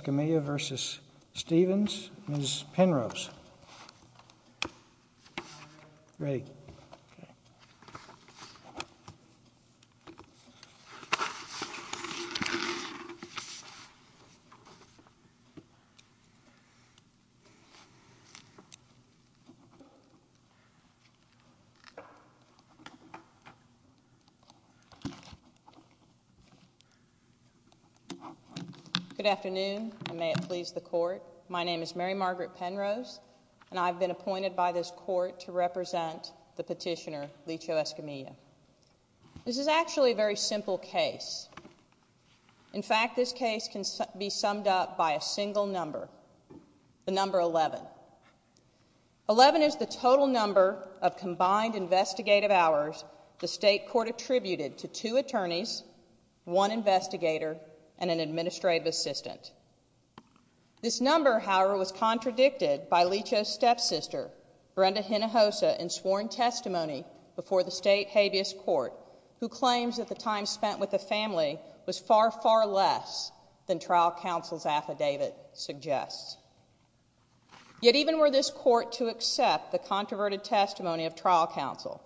Escamilla v. Stephens, Ms. Penrose. Ready. Good afternoon, and may it please the court. My name is Mary Margaret Penrose, and I've been appointed by this court to represent the petitioner, Licho Escamilla. This is actually a very simple case. In fact, this case can be summed up by a single number, the number 11. 11 is the total number of combined investigative hours the state court attributed to two attorneys, one investigator, and an administrative assistant. This number, however, was contradicted by Licho's stepsister, Brenda Hinojosa, in sworn testimony before the state habeas court, who claims that the time spent with the family was far, far less than trial counsel's affidavit suggests. Yet even were this court to accept the controverted testimony of trial counsel,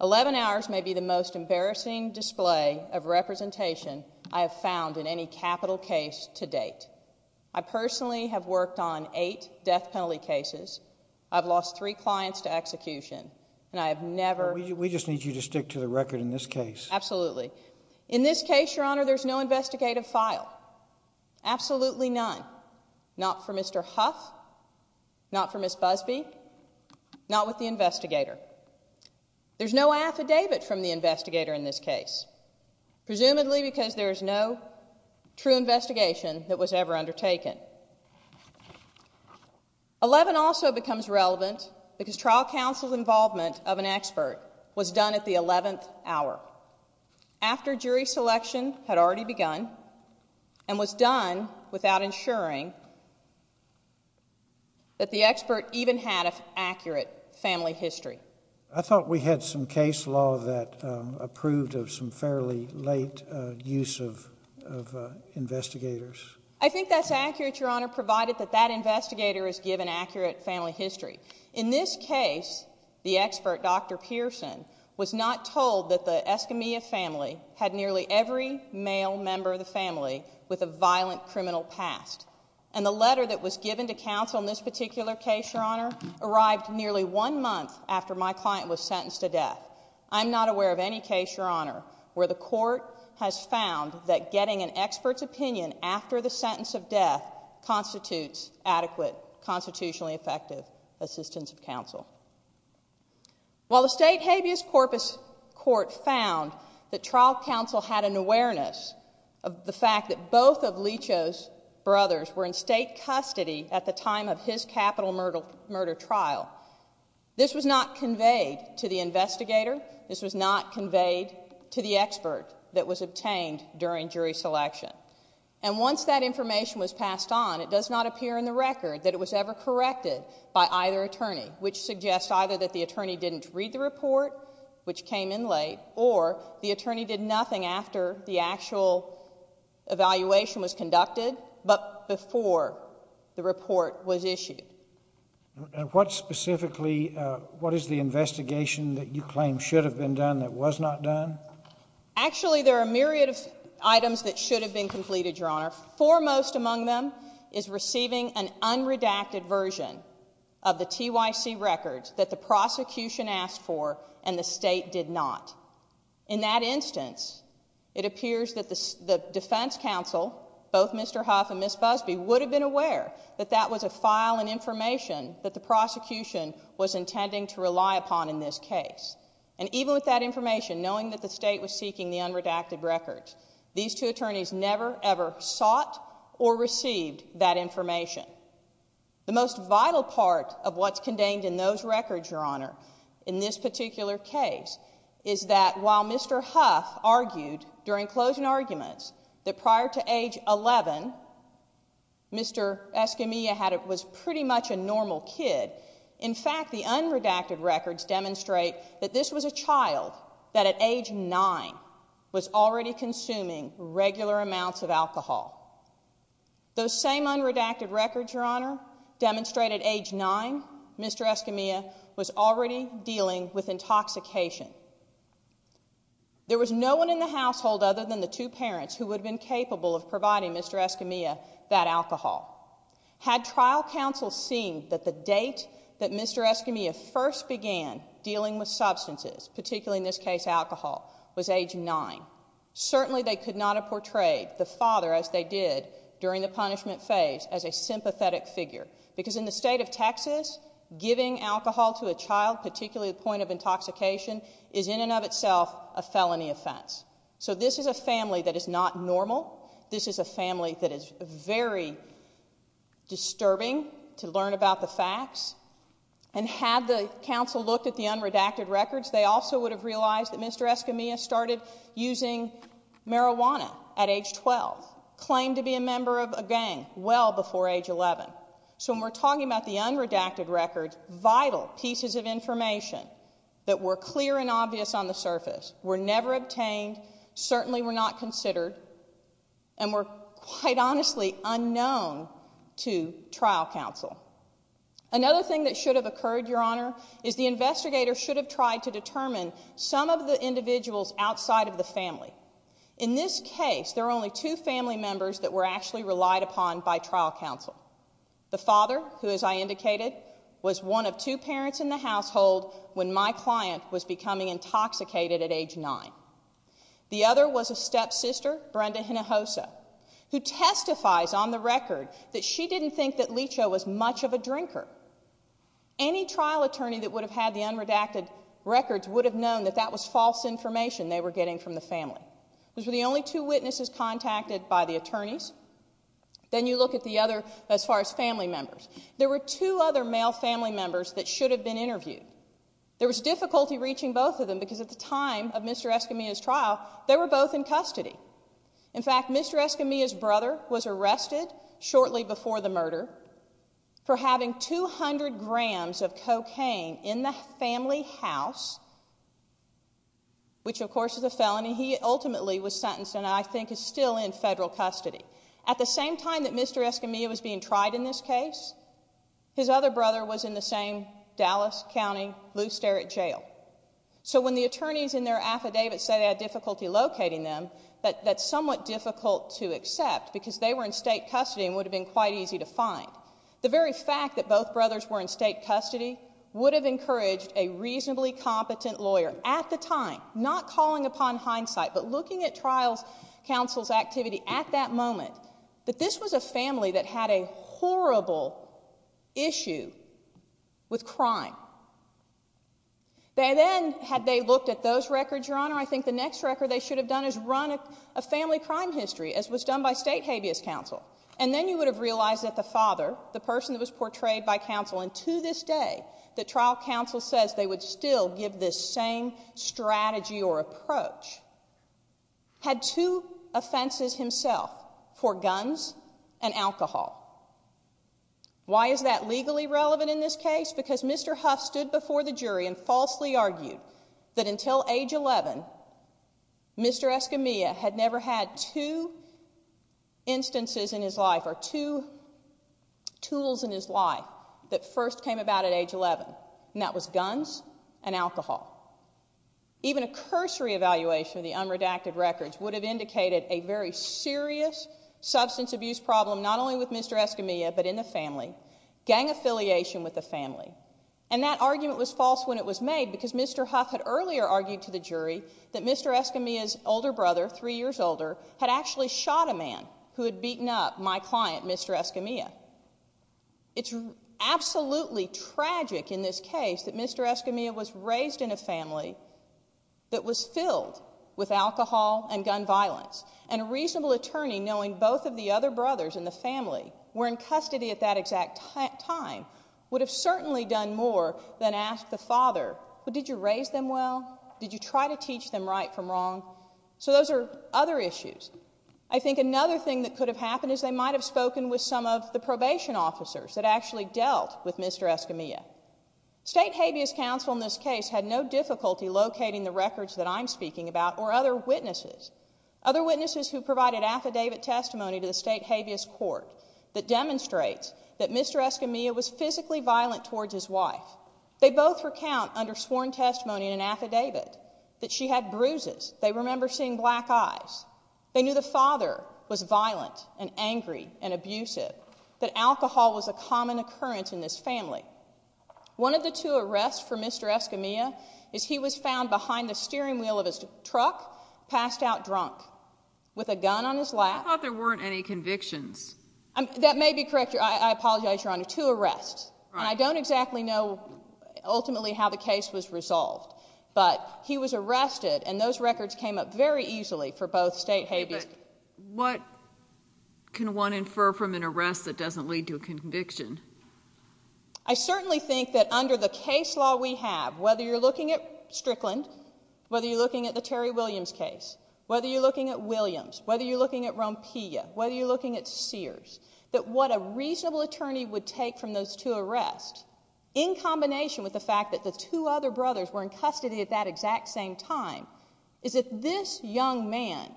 11 hours may be the most embarrassing display of representation I have found in any capital case to date. I personally have worked on eight death penalty cases. I've lost three clients to execution, and I have never. We just need you to stick to the record in this case. Absolutely. In this case, Your Honor, there's no investigative file. Absolutely none. Not for Mr. Huff, not for Ms. Busby, not with the investigator. There's no affidavit from the investigator in this case, presumably because there is no true investigation that was ever undertaken. 11 also becomes relevant because trial counsel's involvement of an expert was done at the 11th hour, after jury selection had already begun, and was done without ensuring that the expert even had an accurate family history. I thought we had some case law that approved of some fairly late use of investigators. I think that's accurate, Your Honor, provided that that investigator is given accurate family history. In this case, the expert, Dr. Pearson, was not told that the Escamilla family had nearly every male member of the family with a violent criminal past. And the letter that was given to counsel in this particular case, Your Honor, arrived nearly one month after my client was sentenced to death. I'm not aware of any case, Your Honor, where the court has found that getting an expert's opinion after the sentence of death constitutes adequate, constitutionally effective assistance of counsel. While the state habeas corpus court found that trial counsel had an awareness of the fact that both of Leach's brothers were in state custody at the time of his capital murder trial, this was not conveyed to the investigator. This was not conveyed to the expert that was obtained during jury selection. And once that information was passed on, it does not appear in the record that it was ever corrected by either attorney, which suggests either that the attorney didn't read the report, which came in late, or the attorney did nothing after the actual evaluation was reported was issued. And what specifically, what is the investigation that you claim should have been done that was not done? Actually, there are a myriad of items that should have been completed, Your Honor. Foremost among them is receiving an unredacted version of the TYC records that the prosecution asked for and the state did not. In that instance, it appears that the defense counsel, both Mr. Huff and Ms. Busby, would have been aware that that was a file and information that the prosecution was intending to rely upon in this case. And even with that information, knowing that the state was seeking the unredacted records, these two attorneys never, ever sought or received that information. The most vital part of what's contained in those records, Your Honor, in this particular case, is that while Mr. Huff argued during closing arguments that prior to age 11, Mr. Escamilla was pretty much a normal kid, in fact, the unredacted records demonstrate that this was a child that at age nine was already consuming regular amounts of alcohol. Those same unredacted records, Your Honor, demonstrate at age nine, Mr. Escamilla was already dealing with intoxication. There was no one in the household other than the two parents who would have been capable of providing Mr. Escamilla that alcohol. Had trial counsel seen that the date that Mr. Escamilla first began dealing with substances, particularly in this case alcohol, was age nine, certainly they could not have portrayed the father, as they did during the punishment phase, as a sympathetic figure. Because in the state of Texas, giving alcohol to a child, particularly the point of intoxication, is in and of itself a felony offense. So this is a family that is not normal. This is a family that is very disturbing to learn about the facts. And had the counsel looked at the unredacted records, they also would have realized that Mr. Escamilla started using marijuana at age 12, claimed to be a member of a gang well before age 11. So when we're talking about the unredacted records, vital pieces of information that were clear and obvious on the surface were never obtained, certainly were not considered, and were quite honestly unknown to trial counsel. Another thing that should have occurred, your honor, is the investigator should have tried to determine some of the individuals outside of the family. In this case, there were only two family members that were actually relied upon by trial counsel. The father, who as I indicated, was one of two parents in the household when my client was becoming intoxicated at age nine. The other was a stepsister, Brenda Hinojosa, who testifies on the record that she didn't think that Lecho was much of a drinker. Any trial attorney that would have had the unredacted records would have known that that was false information they were getting from the family. Those were the only two witnesses contacted by the attorneys. Then you look at the other, as far as family members. There were two other male family members that should have been interviewed. There was difficulty reaching both of them because at the time of Mr. Escamilla's trial, they were both in custody. In fact, Mr. Escamilla's brother was arrested shortly before the murder for having 200 grams of cocaine in the family house, which of course is a felony. He ultimately was sentenced and I think is still in federal custody. At the same time that Mr. Escamilla was being tried in this case, his other brother was in the same Dallas County loose derrick jail. So when the attorneys in their affidavits say they had difficulty locating them, that's somewhat difficult to accept because they were in state custody and would have been quite easy to find. The very fact that both brothers were in state custody would have encouraged a reasonably competent lawyer at the time, not calling upon hindsight, but looking at trial's counsel's activity at that moment, that this was a family that had a horrible issue with crime. They then, had they looked at those records, Your Honor, I think the next record they should have done is run a family crime history, as was done by state habeas counsel. And then you would have realized that the father, the person that was portrayed by counsel, and to this day, the trial counsel says they would still give this same strategy or approach, had two offenses himself for guns and alcohol. Why is that legally relevant in this case? Because Mr. Huff stood before the jury and falsely argued that until age 11, Mr. Escamilla had never had two instances in his life or two tools in his life that first came about at age 11, and that was guns and alcohol. Even a cursory evaluation of the unredacted records would have indicated a very serious substance abuse problem, not only with Mr. Escamilla, but in the family, gang affiliation with the family. And that argument was false when it was made because Mr. Huff had earlier argued to the jury that Mr. Escamilla's older brother, three years older, had actually shot a man who had beaten up my client, Mr. Escamilla. It's absolutely tragic in this case that Mr. Escamilla was raised in a family that was filled with alcohol and gun violence, and a reasonable attorney, knowing both of the other brothers in the family were in custody at that exact time, would have certainly done more than ask the father, but did you raise them well? Did you try to teach them right from wrong? So those are other issues. I think another thing that could have happened is they might have spoken with some of the probation officers that actually dealt with Mr. Escamilla. State Habeas Council in this case had no difficulty locating the records that I'm speaking about, or other witnesses. Other witnesses who provided affidavit testimony to the State Habeas Court that demonstrates that Mr. Escamilla was physically violent towards his wife. They both recount under sworn testimony in an affidavit that she had bruises, they remember seeing black eyes. They knew the father was violent and angry and abusive, that alcohol was a common occurrence in this family. One of the two arrests for Mr. Escamilla is he was found behind the steering wheel of his truck, passed out drunk, with a gun on his lap. I thought there weren't any convictions. That may be correct, I apologize, Your Honor. Two arrests, and I don't exactly know ultimately how the case was resolved, but he was arrested, and those records came up very easily for both State Habeas. What can one infer from an arrest that doesn't lead to a conviction? I certainly think that under the case law we have, whether you're looking at Strickland, whether you're looking at the Terry Williams case, whether you're looking at Williams, whether you're looking at Rompilla, whether you're looking at Sears, that what a reasonable attorney would take from those two arrests, in combination with the fact that the two other brothers were in custody at that exact same time, is that this young man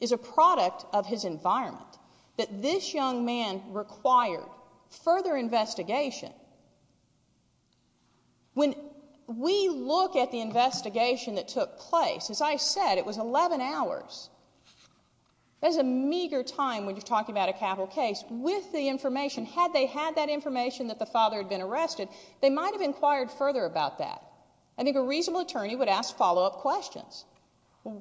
is a product of his environment, that this young man required further investigation. When we look at the investigation that took place, as I said, it was 11 hours. That is a meager time when you're talking about a capital case, with the information. Had they had that information that the father had been arrested, they might have inquired further about that. I think a reasonable attorney would ask follow-up questions.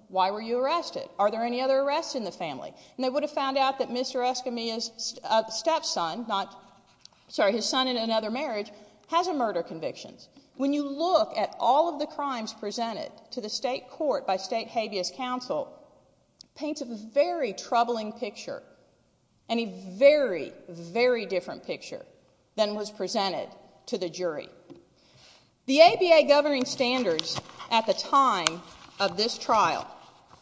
Why were you arrested? Are there any other arrests in the family? And they would have found out that Mr. Escamilla's stepson, not, sorry, his son in another marriage, has a murder conviction. When you look at all of the crimes presented to the state court by state habeas counsel, and a very, very different picture than was presented to the jury. The ABA governing standards at the time of this trial,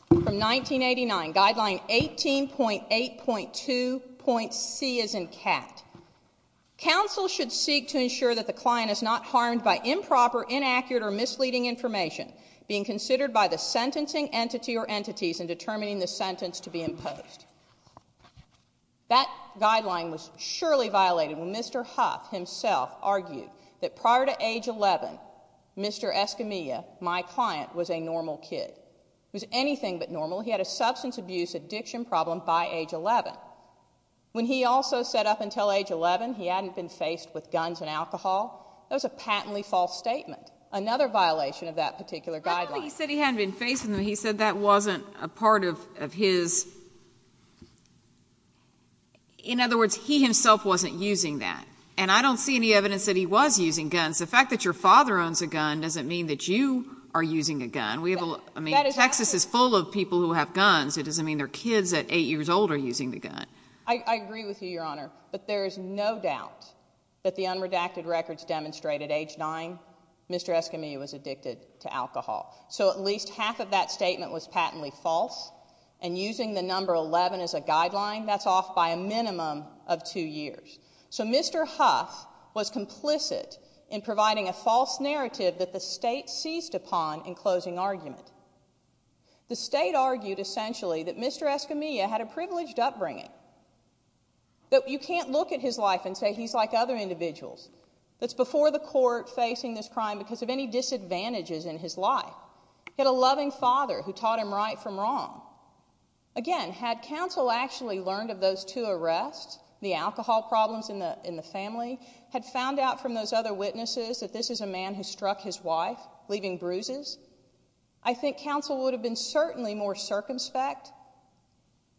from 1989, guideline 18.8.2.C, as in cat, counsel should seek to ensure that the client is not harmed by improper, inaccurate, or misleading information being considered by the sentencing entity or entities in determining the sentence to be imposed. That guideline was surely violated when Mr. Huff himself argued that persons prior to age 11, Mr. Escamilla, my client, was a normal kid, was anything but normal. He had a substance abuse addiction problem by age 11. When he also said up until age 11, he hadn't been faced with guns and alcohol, that was a patently false statement, another violation of that particular guideline. He said he hadn't been facing them. He said that wasn't a part of his, in other words, he himself wasn't using that. And I don't see any evidence that he was using guns. The fact that your father owns a gun doesn't mean that you are using a gun. I mean, Texas is full of people who have guns. It doesn't mean their kids at eight years old are using the gun. I agree with you, Your Honor, but there is no doubt that the unredacted records demonstrate at age nine, Mr. Escamilla was addicted to alcohol. So at least half of that statement was patently false and using the number 11 as a guideline, that's off by a minimum of two years. So Mr. Huff was complicit in providing a false narrative that the state seized upon in closing argument. The state argued essentially that Mr. Escamilla had a privileged upbringing, that you can't look at his life and say he's like other individuals. That's before the court facing this crime because of any disadvantages in his life. He had a loving father who taught him right from wrong. Again, had counsel actually learned of those two arrests, the alcohol problems in the family, had found out from those other witnesses that this is a man who struck his wife, leaving bruises, I think counsel would have been certainly more circumspect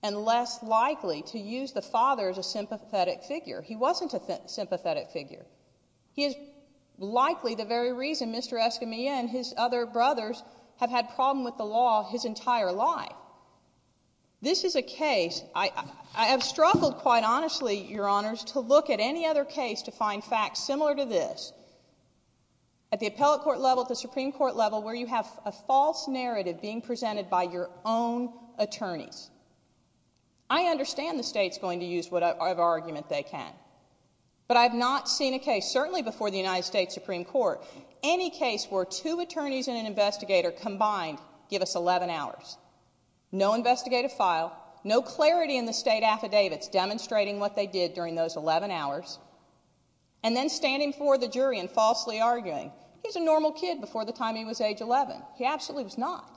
and less likely to use the father as a sympathetic figure. He wasn't a sympathetic figure. He is likely the very reason Mr. Escamilla and his other brothers have had problem with the law his entire life. This is a case, I have struggled quite honestly, Your Honors, to look at any other case to find facts similar to this. At the appellate court level, at the Supreme Court level, where you have a false narrative being presented by your own attorneys. I understand the state's going to use whatever argument they can. But I have not seen a case, certainly before the United States Supreme Court, any case where two attorneys and an investigator combined give us 11 hours. No investigative file. No clarity in the state affidavits demonstrating what they did during those 11 hours. And then standing before the jury and falsely arguing, he's a normal kid before the time he was age 11. He absolutely was not.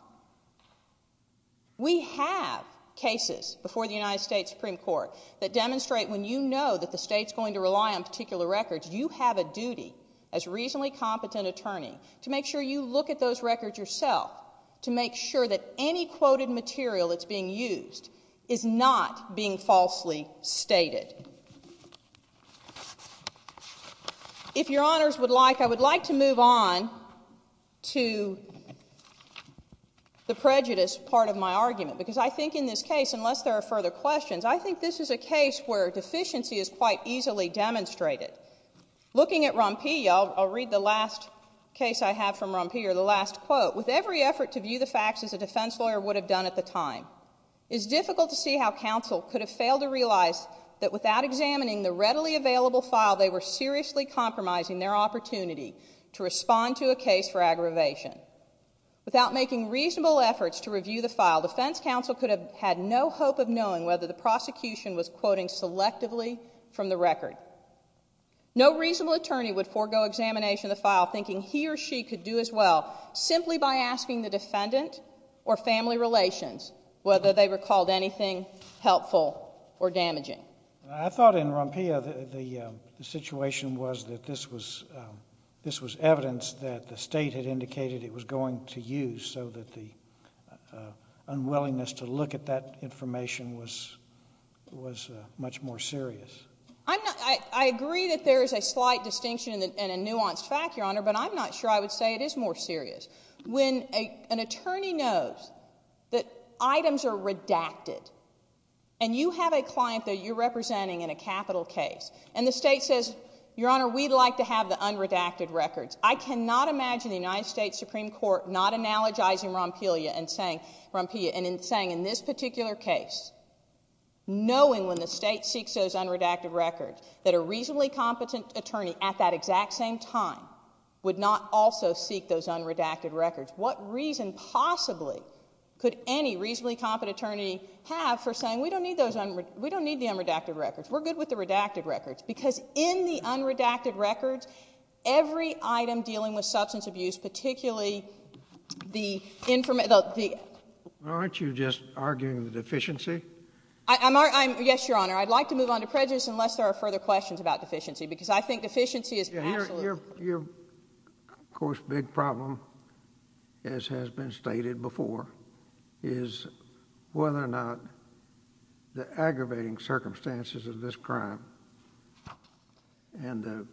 We have cases before the United States Supreme Court that demonstrate when you know that the state's going to rely on particular records, you have a duty as reasonably competent attorney to make sure you look at those records yourself to make sure that any quoted material that's being used is not being falsely stated. If Your Honors would like, I would like to move on to the prejudice part of my argument. Because I think in this case, unless there are further questions, I think this is a case where deficiency is quite easily demonstrated. Looking at Rompi, I'll read the last case I have from Rompi, or the last quote. With every effort to view the facts as a defense lawyer would have done at the time, it's difficult to see how counsel could have failed to realize that without examining the readily available file, they were seriously compromising their opportunity to respond to a case for aggravation. Without making reasonable efforts to review the file, defense counsel could have had no hope of knowing whether the prosecution was quoting selectively from the record. No reasonable attorney would forego examination of the file thinking he or she could do as well simply by asking the defendant or family relations whether they recalled anything helpful or damaging. I thought in Rompi, the situation was that this was evidence that the state had indicated it was going to use so that the unwillingness to look at that information was much more serious. in a nuanced fact, Your Honor, but I'm not sure I would say it is more serious. When an attorney knows that items are redacted and you have a client that you're representing in a capital case and the state says, Your Honor, we'd like to have the unredacted records. I cannot imagine the United States Supreme Court not analogizing Rompi and saying in this particular case, knowing when the state seeks those unredacted records that a reasonably competent attorney at that exact same time would not also seek those unredacted records. What reason possibly could any reasonably competent attorney have for saying, we don't need the unredacted records. We're good with the redacted records because in the unredacted records, every item dealing with substance abuse, particularly the information, the... Aren't you just arguing the deficiency? I'm, yes, Your Honor. I'd like to move on to prejudice unless there are further questions about deficiency because I think deficiency is absolutely... Your, of course, big problem, as has been stated before, is whether or not the aggravating circumstances of this crime and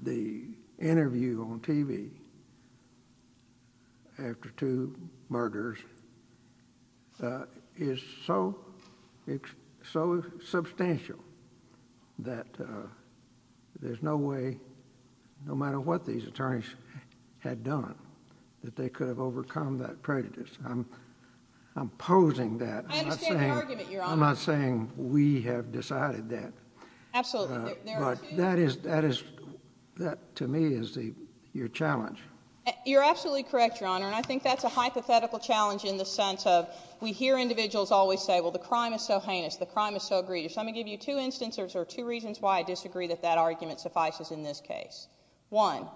the interview on TV after two murders is so substantial that there's no way, no matter what these attorneys had done, that they could have overcome that prejudice. I'm opposing that. I understand the argument, Your Honor. I'm not saying we have decided that. Absolutely. But that is, to me, is your challenge. You're absolutely correct, Your Honor, and I think that's a hypothetical challenge in the sense of we hear individuals always say, well, the crime is so heinous, the crime is so grievous. Let me give you two instances or two reasons why I disagree that that argument suffices in this case. One,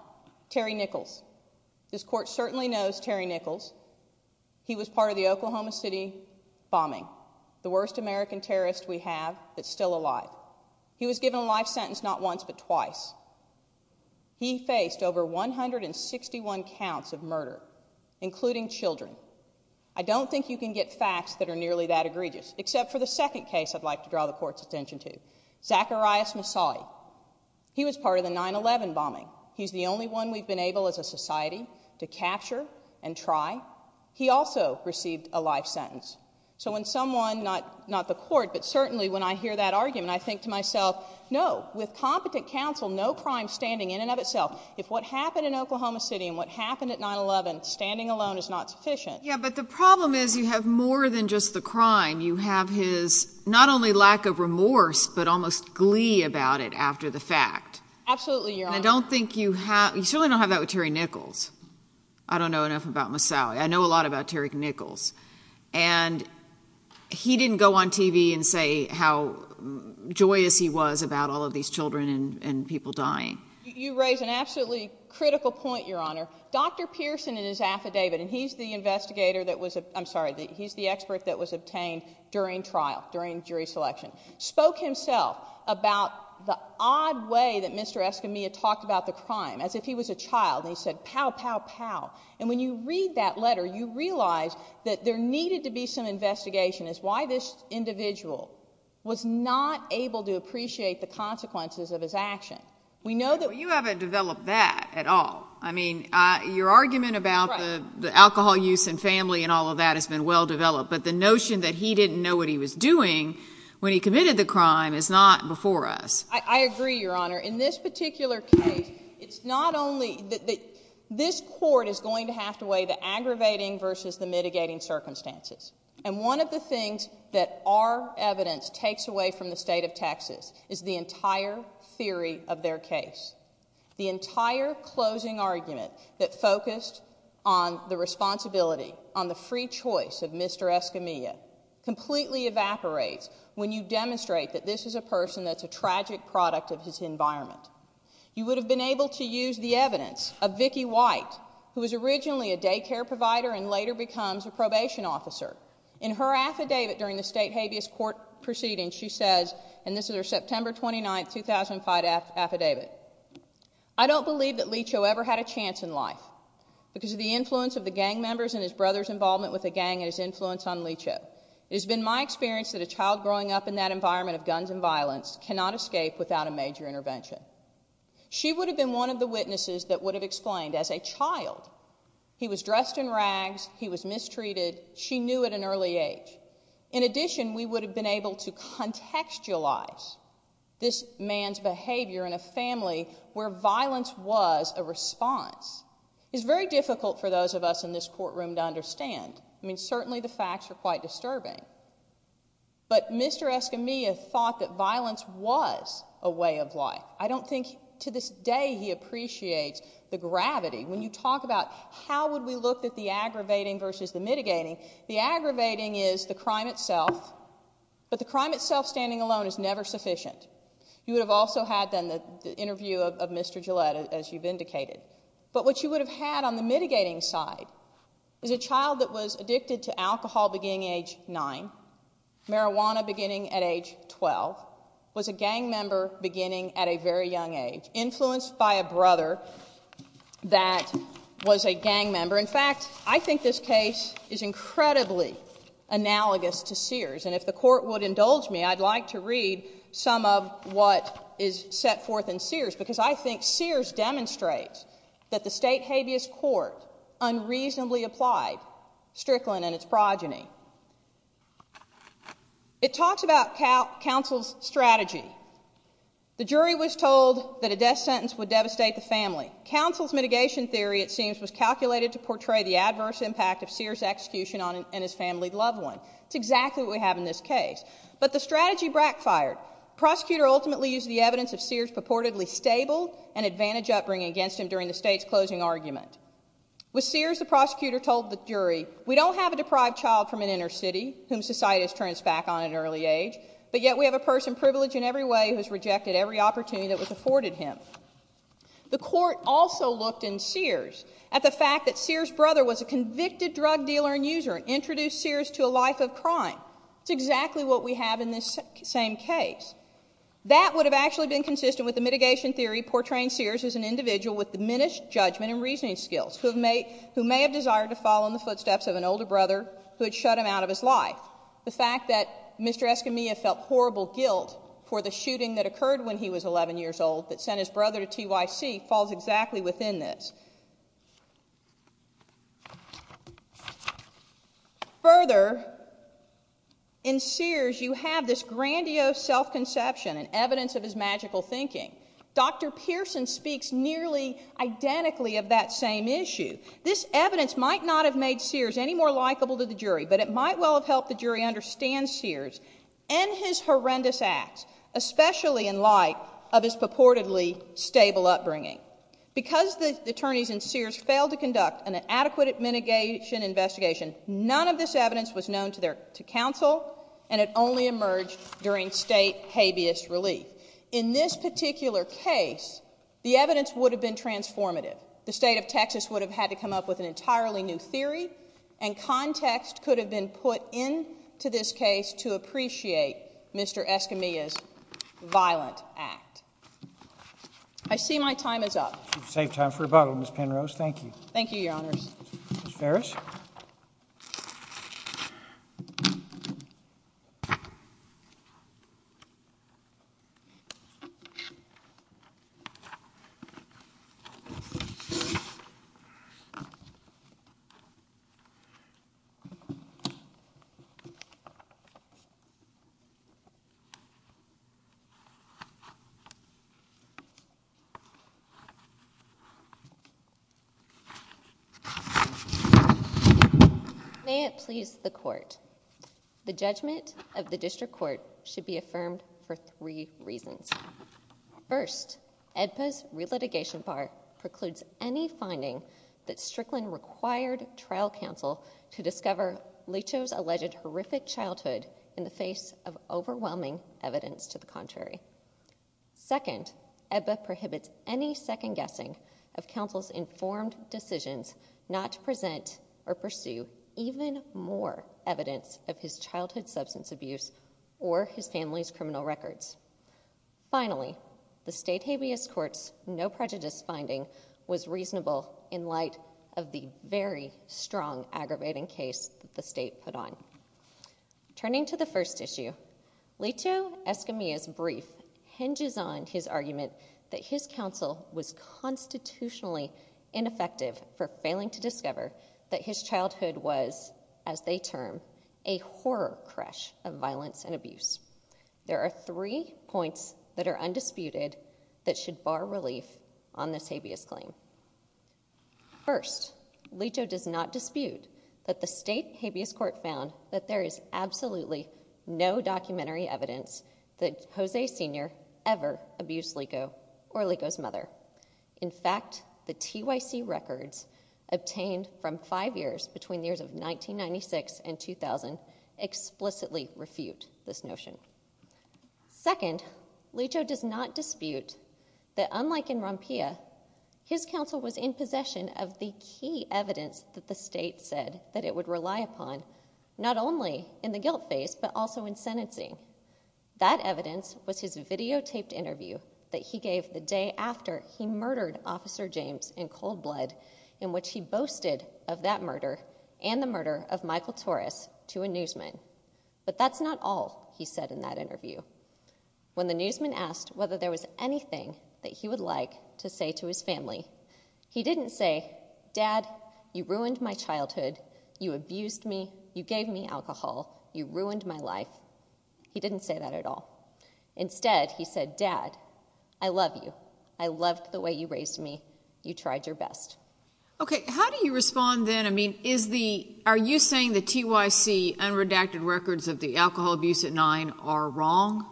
Terry Nichols. This court certainly knows Terry Nichols. He was part of the Oklahoma City bombing, the worst American terrorist we have that's still alive. He was given a life sentence not once but twice. He faced over 161 counts of murder, including children. I don't think you can get facts that are nearly that egregious, except for the second case I'd like to draw the court's attention to. Zacharias Massai. He was part of the 9-11 bombing. He's the only one we've been able, as a society, to capture and try. He also received a life sentence. So when someone, not the court, but certainly when I hear that argument, I think to myself, no, with competent counsel, no crime standing in and of itself. If what happened in Oklahoma City and what happened at 9-11 standing alone is not sufficient. Yeah, but the problem is you have more than just the crime. You have his, not only lack of remorse, but almost glee about it after the fact. Absolutely, Your Honor. And I don't think you have, you certainly don't have that with Terry Nichols. I don't know enough about Massai. I know a lot about Terry Nichols. And he didn't go on TV and say how joyous he was about all of these children and people dying. You raise an absolutely critical point, Your Honor. Dr. Pearson and his affidavit, and he's the investigator that was, I'm sorry, he's the expert that was obtained during trial, during jury selection, spoke himself about the odd way that Mr. Escamilla talked about the crime, as if he was a child and he said, pow, pow, pow. And when you read that letter, you realize that there needed to be some investigation as why this individual was not able to appreciate the consequences of his action. We know that- Well, you haven't developed that at all. I mean, your argument about the alcohol use and family and all of that has been well-developed, but the notion that he didn't know what he was doing when he committed the crime is not before us. I agree, Your Honor. In this particular case, it's not only, this court is going to have to weigh the aggravating versus the mitigating circumstances. And one of the things that our evidence takes away from the state of Texas is the entire theory of their case. The entire closing argument that focused on the responsibility, on the free choice of Mr. Escamilla, completely evaporates when you demonstrate that this is a person that's a tragic product of his environment. You would have been able to use the evidence of Vicki White, who was originally a daycare provider and later becomes a probation officer. In her affidavit during the state habeas court proceeding, she says, and this is her September 29th, 2005 affidavit, I don't believe that Licho ever had a chance in life because of the influence of the gang members and his brother's involvement with the gang and his influence on Licho. It has been my experience that a child growing up in that environment of guns and violence cannot escape without a major intervention. She would have been one of the witnesses that would have explained as a child, he was dressed in rags, he was mistreated, she knew at an early age. In addition, we would have been able to contextualize this man's behavior in a family where violence was a response. It's very difficult for those of us in this courtroom to understand. I mean, certainly the facts are quite disturbing. But Mr. Escamilla thought that violence was a way of life. I don't think to this day he appreciates the gravity. When you talk about how would we look at the aggravating versus the mitigating, the aggravating is the crime itself, but the crime itself standing alone is never sufficient. You would have also had then the interview of Mr. Gillette, as you've indicated. But what you would have had on the mitigating side is a child that was addicted to alcohol beginning age nine, marijuana beginning at age 12, was a gang member beginning at a very young age, influenced by a brother that was a gang member. In fact, I think this case is incredibly analogous to Sears. And if the court would indulge me, I'd like to read some of what is set forth in Sears, because I think Sears demonstrates that the state habeas court unreasonably applied Strickland and its progeny. It talks about counsel's strategy. The jury was told that a death sentence would devastate the family. Counsel's mitigation theory, it seems, was calculated to portray the adverse impact of Sears' execution on his family loved one. It's exactly what we have in this case. But the strategy backfired. Prosecutor ultimately used the evidence of Sears' purportedly stable and advantage upbringing against him during the state's closing argument. With Sears, the prosecutor told the jury, we don't have a deprived child from an inner city whom society has turned its back on at an early age, but yet we have a person privileged in every way who has rejected every opportunity that was afforded him. The court also looked in Sears at the fact that Sears' brother was a convicted drug dealer and user and introduced Sears to a life of crime. It's exactly what we have in this same case. That would have actually been consistent with the mitigation theory portraying Sears as an individual with diminished judgment and reasoning skills, who may have desired to follow in the footsteps of an older brother who had shut him out of his life. The fact that Mr. Escamilla felt horrible guilt for the shooting that occurred when he was 11 years old that sent his brother to TYC falls exactly within this. Further, in Sears, you have this grandiose self-conception and evidence of his magical thinking. Dr. Pearson speaks nearly identically of that same issue. This evidence might not have made Sears any more likable to the jury, but it might well have helped the jury understand Sears and his horrendous acts, especially in light of his purportedly stable upbringing. Because the attorneys in Sears failed to conduct an adequate mitigation investigation, none of this evidence was known to counsel, and it only emerged during state habeas relief. In this particular case, the evidence would have been transformative. The state of Texas would have had to come up with an entirely new theory, and context could have been put into this case to appreciate Mr. Escamilla's violent act. I see my time is up. You've saved time for rebuttal, Ms. Penrose. Thank you. Ms. Ferris. Thank you. May it please the court. The judgment of the district court should be affirmed for three reasons. First, AEDPA's relitigation bar precludes any finding that Strickland required trial counsel to discover Leach's alleged horrific childhood in the face of overwhelming evidence to the contrary. Second, AEDPA prohibits any second guessing of counsel's informed decisions not to present or pursue even more evidence of his childhood substance abuse or his family's criminal records. Finally, the state habeas court's no prejudice finding was reasonable in light of the very strong aggravating case the state put on. Turning to the first issue, Leto Escamilla's brief hinges on his argument that his counsel was constitutionally ineffective for failing to discover that his childhood was, as they term, a horror crash of violence and abuse. There are three points that are undisputed that should bar relief on this habeas claim. First, Leto does not dispute that the state habeas court found that there is absolutely no documentary evidence that Jose Sr. ever abused Lico or Lico's mother. In fact, the TYC records obtained from five years between the years of 1996 and 2000 explicitly refute this notion. Second, Leto does not dispute that, unlike in Rompilla, his counsel was in possession of the key evidence that the state said that it would rely upon, not only in the guilt phase, but also in sentencing. That evidence was his videotaped interview that he gave the day after he murdered Officer James in cold blood, in which he boasted of that murder and the murder of Michael Torres to a newsman. But that's not all he said in that interview. When the newsman asked whether there was anything that he would like to say to his family, he didn't say, dad, you ruined my childhood. You abused me. You gave me alcohol. You ruined my life. He didn't say that at all. Instead, he said, dad, I love you. I loved the way you raised me. You tried your best. OK, how do you respond then? I mean, are you saying the TYC unredacted records of the alcohol abuse at nine are wrong?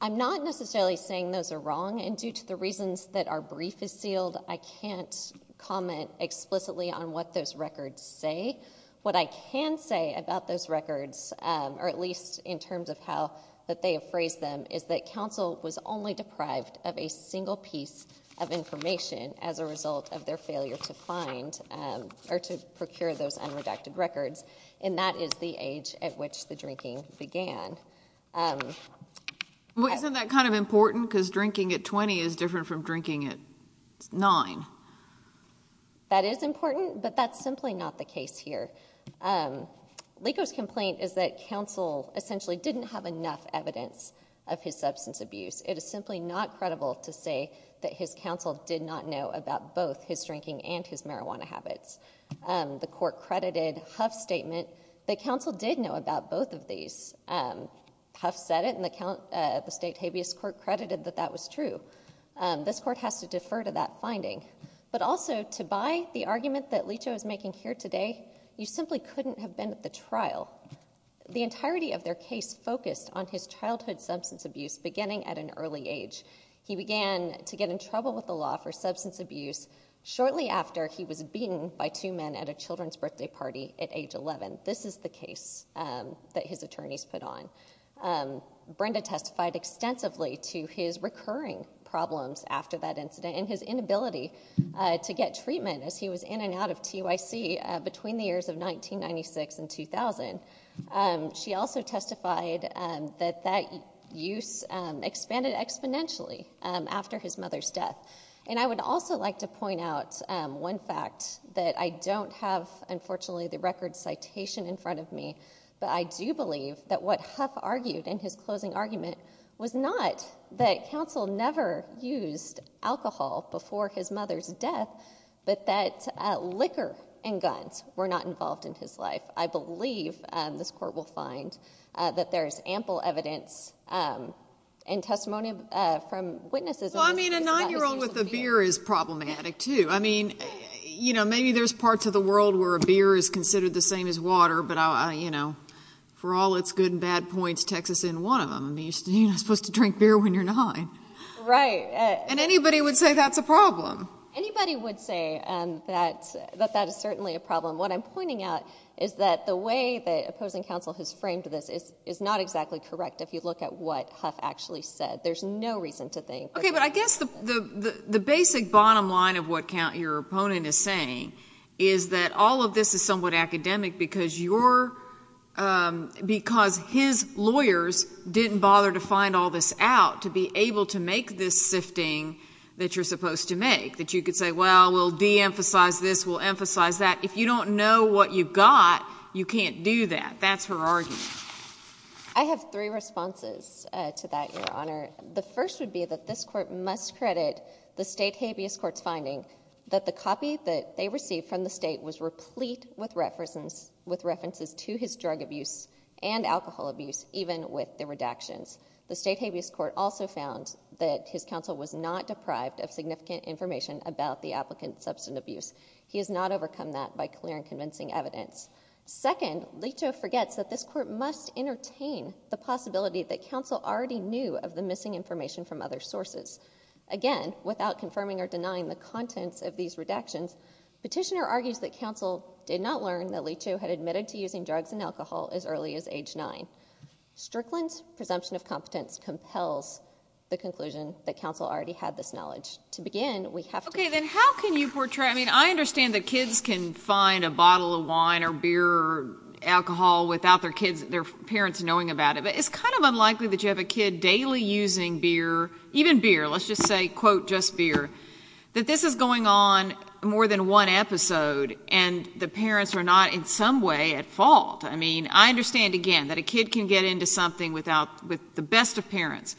I'm not necessarily saying those are wrong. And due to the reasons that our brief is sealed, I can't comment explicitly on what those records say. What I can say about those records, or at least in terms of how that they have phrased them, is that counsel was only deprived of a single piece of information as a result of their failure to find or to procure those unredacted records. And that is the age at which the drinking began. Isn't that kind of important? Because drinking at 20 is different from drinking at nine. That is important, but that's simply not the case here. Lico's complaint is that counsel essentially didn't have enough evidence of his substance abuse. It is simply not credible to say that his counsel did not know about both his drinking and his marijuana habits. The court credited Huff's statement that counsel did know about both of these. Huff said it, and the state habeas court credited that that was true. This court has to defer to that finding. But also, to buy the argument that Lico is making here today, you simply couldn't have been at the trial. The entirety of their case focused on his childhood substance abuse beginning at an early age. He began to get in trouble with the law for substance abuse shortly after he was beaten by two men at a children's birthday party at age 11. This is the case that his attorneys put on. Brenda testified extensively to his recurring problems after that incident and his inability to get treatment as he was in and out of TYC between the years of 1996 and 2000. She also testified that that use expanded exponentially after his mother's death. And I would also like to point out one fact that I don't have, unfortunately, the record citation in front of me, but I do believe that what Huff argued in his closing argument was not that counsel never used alcohol before his mother's death, but that liquor and guns were not involved in his life. I believe, this court will find, that there's ample evidence and testimony from witnesses Well, I mean, a nine-year-old with a beer is problematic, too. I mean, maybe there's parts of the world where a beer is considered the same as water, but for all its good and bad points, Texas isn't one of them. I mean, you're not supposed to drink beer when you're nine. Right. And anybody would say that's a problem. Anybody would say that that is certainly a problem. What I'm pointing out is that the way that opposing counsel has framed this is not exactly correct. If you look at what Huff actually said, there's no reason to think that that's a problem. OK, but I guess the basic bottom line of what your opponent is saying is that all of this is somewhat academic because his lawyers didn't bother to find all this out to be able to make this sifting that you're supposed to make. That you could say, well, we'll de-emphasize this. We'll emphasize that. If you don't know what you've got, you can't do that. That's her argument. I have three responses to that, Your Honor. The first would be that this court must credit the state habeas court's finding that the copy that they received from the state was replete with references to his drug abuse and alcohol abuse, even with the redactions. The state habeas court also found that his counsel was not deprived of significant information about the applicant's substance abuse. He has not overcome that by clear and convincing evidence. Second, Leto forgets that this court must entertain the possibility that counsel already knew of the missing information from other sources. Again, without confirming or denying the contents of these redactions, petitioner argues that counsel did not learn that Leto had admitted to using drugs and alcohol as early as age nine. Strickland's presumption of competence compels the conclusion that counsel already had this knowledge. To begin, we have to- OK, then how can you portray? I mean, I understand that kids can find a bottle of wine or beer or alcohol without their parents knowing about it. But it's kind of unlikely that you have a kid daily using beer, even beer, let's just say, quote, just beer, that this is going on more than one episode and the parents are not in some way at fault. I mean, I understand, again, that a kid can get into something with the best of parents.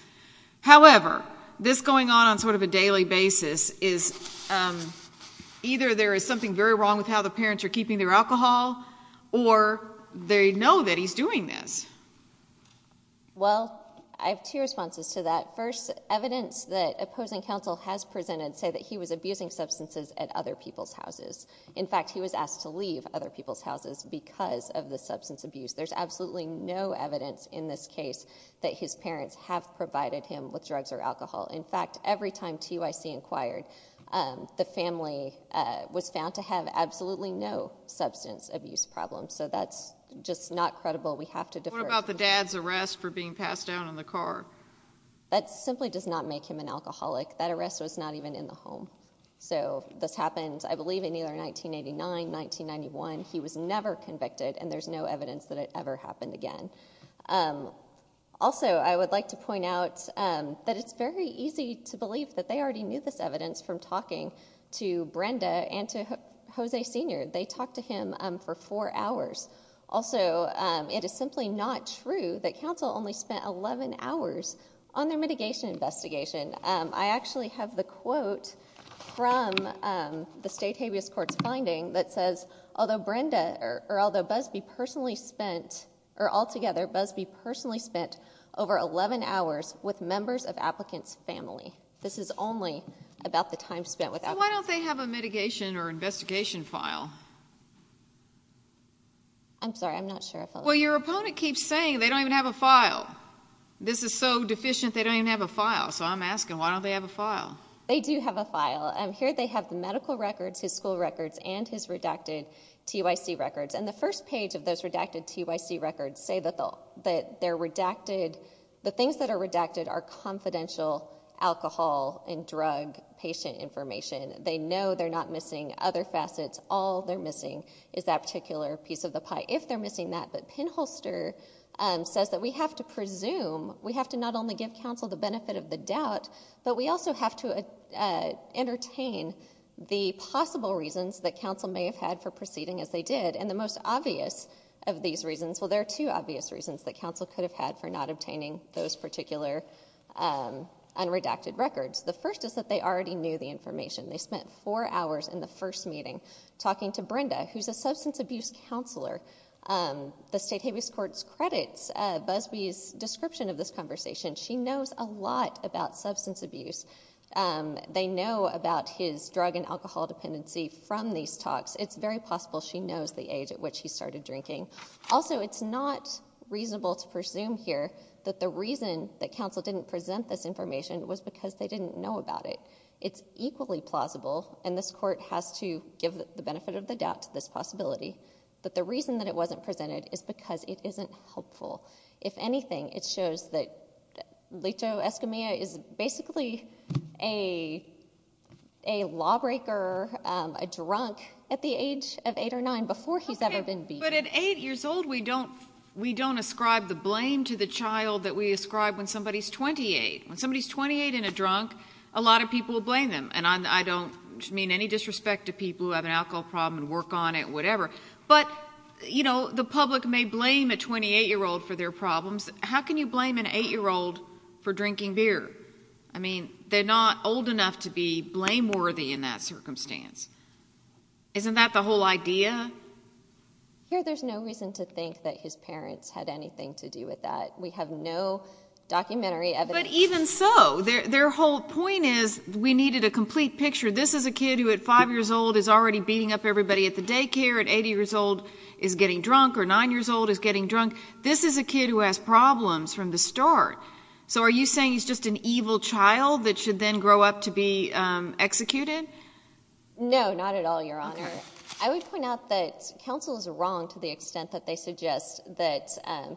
However, this going on on sort of a daily basis is either there is something very wrong with how the parents are keeping their alcohol or they know that he's doing this. Well, I have two responses to that. First, evidence that opposing counsel has presented say that he was abusing substances at other people's houses. In fact, he was asked to leave other people's houses because of the substance abuse. There's absolutely no evidence in this case that his parents have provided him with drugs or alcohol. In fact, every time TYC inquired, the family was found to have absolutely no substance abuse problem. So that's just not credible. We have to defer. What about the dad's arrest for being passed down in the car? That simply does not make him an alcoholic. That arrest was not even in the home. So this happened, I believe, in either 1989, 1991. He was never convicted. And there's no evidence that it ever happened again. Also, I would like to point out that it's very easy to believe that they already knew this evidence from talking to Brenda and to Jose Sr. They talked to him for four hours. Also, it is simply not true that counsel only spent 11 hours on their mitigation investigation. I actually have the quote from the state habeas court's finding that says, although Brenda, or although Busby personally spent, or altogether Busby personally spent over 11 hours with members of applicant's family. This is only about the time spent without. Why don't they have a mitigation or investigation file? I'm sorry, I'm not sure if I'm. Well, your opponent keeps saying they don't even have a file. This is so deficient, they don't even have a file. So I'm asking, why don't they have a file? They do have a file. Here they have the medical records, his school records, and his redacted TYC records. And the first page of those redacted TYC records say that they're redacted, the things that are redacted are confidential alcohol and drug patient information. They know they're not missing other facets. All they're missing is that particular piece of the pie, if they're missing that. But Penholster says that we have to presume, we have to not only give counsel the benefit of the doubt, but we also have to entertain the possible reasons that counsel may have had for proceeding as they did. And the most obvious of these reasons, well, there are two obvious reasons that counsel could have had for not obtaining those particular unredacted records. The first is that they already knew the information. They spent four hours in the first meeting talking to Brenda, who's a substance abuse counselor. The state habeas courts credits Busby's description of this conversation. She knows a lot about substance abuse. They know about his drug and alcohol dependency from these talks. It's very possible she knows the age at which he started drinking. Also, it's not reasonable to presume here that the reason that counsel didn't present this information was because they didn't know about it. It's equally plausible, and this court has to give the benefit of the doubt to this possibility, that the reason that it wasn't presented is because it isn't helpful. If anything, it shows that Lito Escamilla is basically a lawbreaker, a drunk, at the age of eight or nine before he's ever been beaten. But at eight years old, we don't ascribe the blame to the child that we ascribe when somebody's 28. When somebody's 28 and a drunk, a lot of people will blame them, and I don't mean any disrespect to people who have an alcohol problem and work on it, whatever, but the public may blame a 28-year-old for their problems. How can you blame an eight-year-old for drinking beer? I mean, they're not old enough to be blameworthy in that circumstance. Isn't that the whole idea? Yeah. Here, there's no reason to think that his parents had anything to do with that. We have no documentary evidence. But even so, their whole point is, we needed a complete picture. This is a kid who, at five years old, is already beating up everybody at the daycare, at eight years old, is getting drunk, or nine years old, is getting drunk. This is a kid who has problems from the start. So are you saying he's just an evil child that should then grow up to be executed? No, not at all, Your Honor. I would point out that counsel is wrong to the extent that they suggest that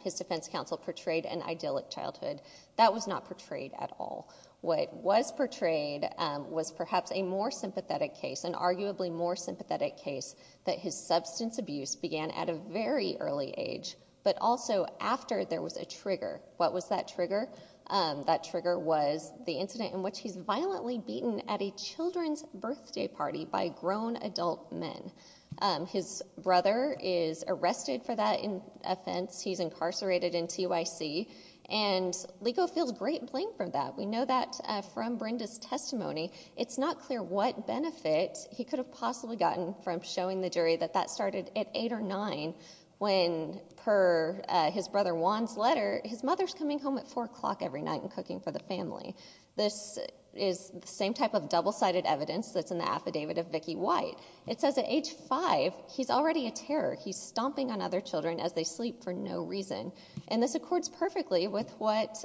his defense counsel portrayed an idyllic childhood. That was not portrayed at all. What was portrayed was perhaps a more sympathetic case, an arguably more sympathetic case, that his substance abuse began at a very early age, but also after there was a trigger. What was that trigger? That trigger was the incident in which he's violently beaten at a children's birthday party by grown adult men. His brother is arrested for that offense. He's incarcerated in TYC. And Ligo feels great blame for that. We know that from Brenda's testimony. It's not clear what benefit he could have possibly gotten from showing the jury that that started at eight or nine, when, per his brother Juan's letter, his mother's coming home at four o'clock every night and cooking for the family. This is the same type of double-sided evidence that's in the affidavit of Vicki White. It says at age five, he's already a terror. He's stomping on other children as they sleep for no reason. And this accords perfectly with what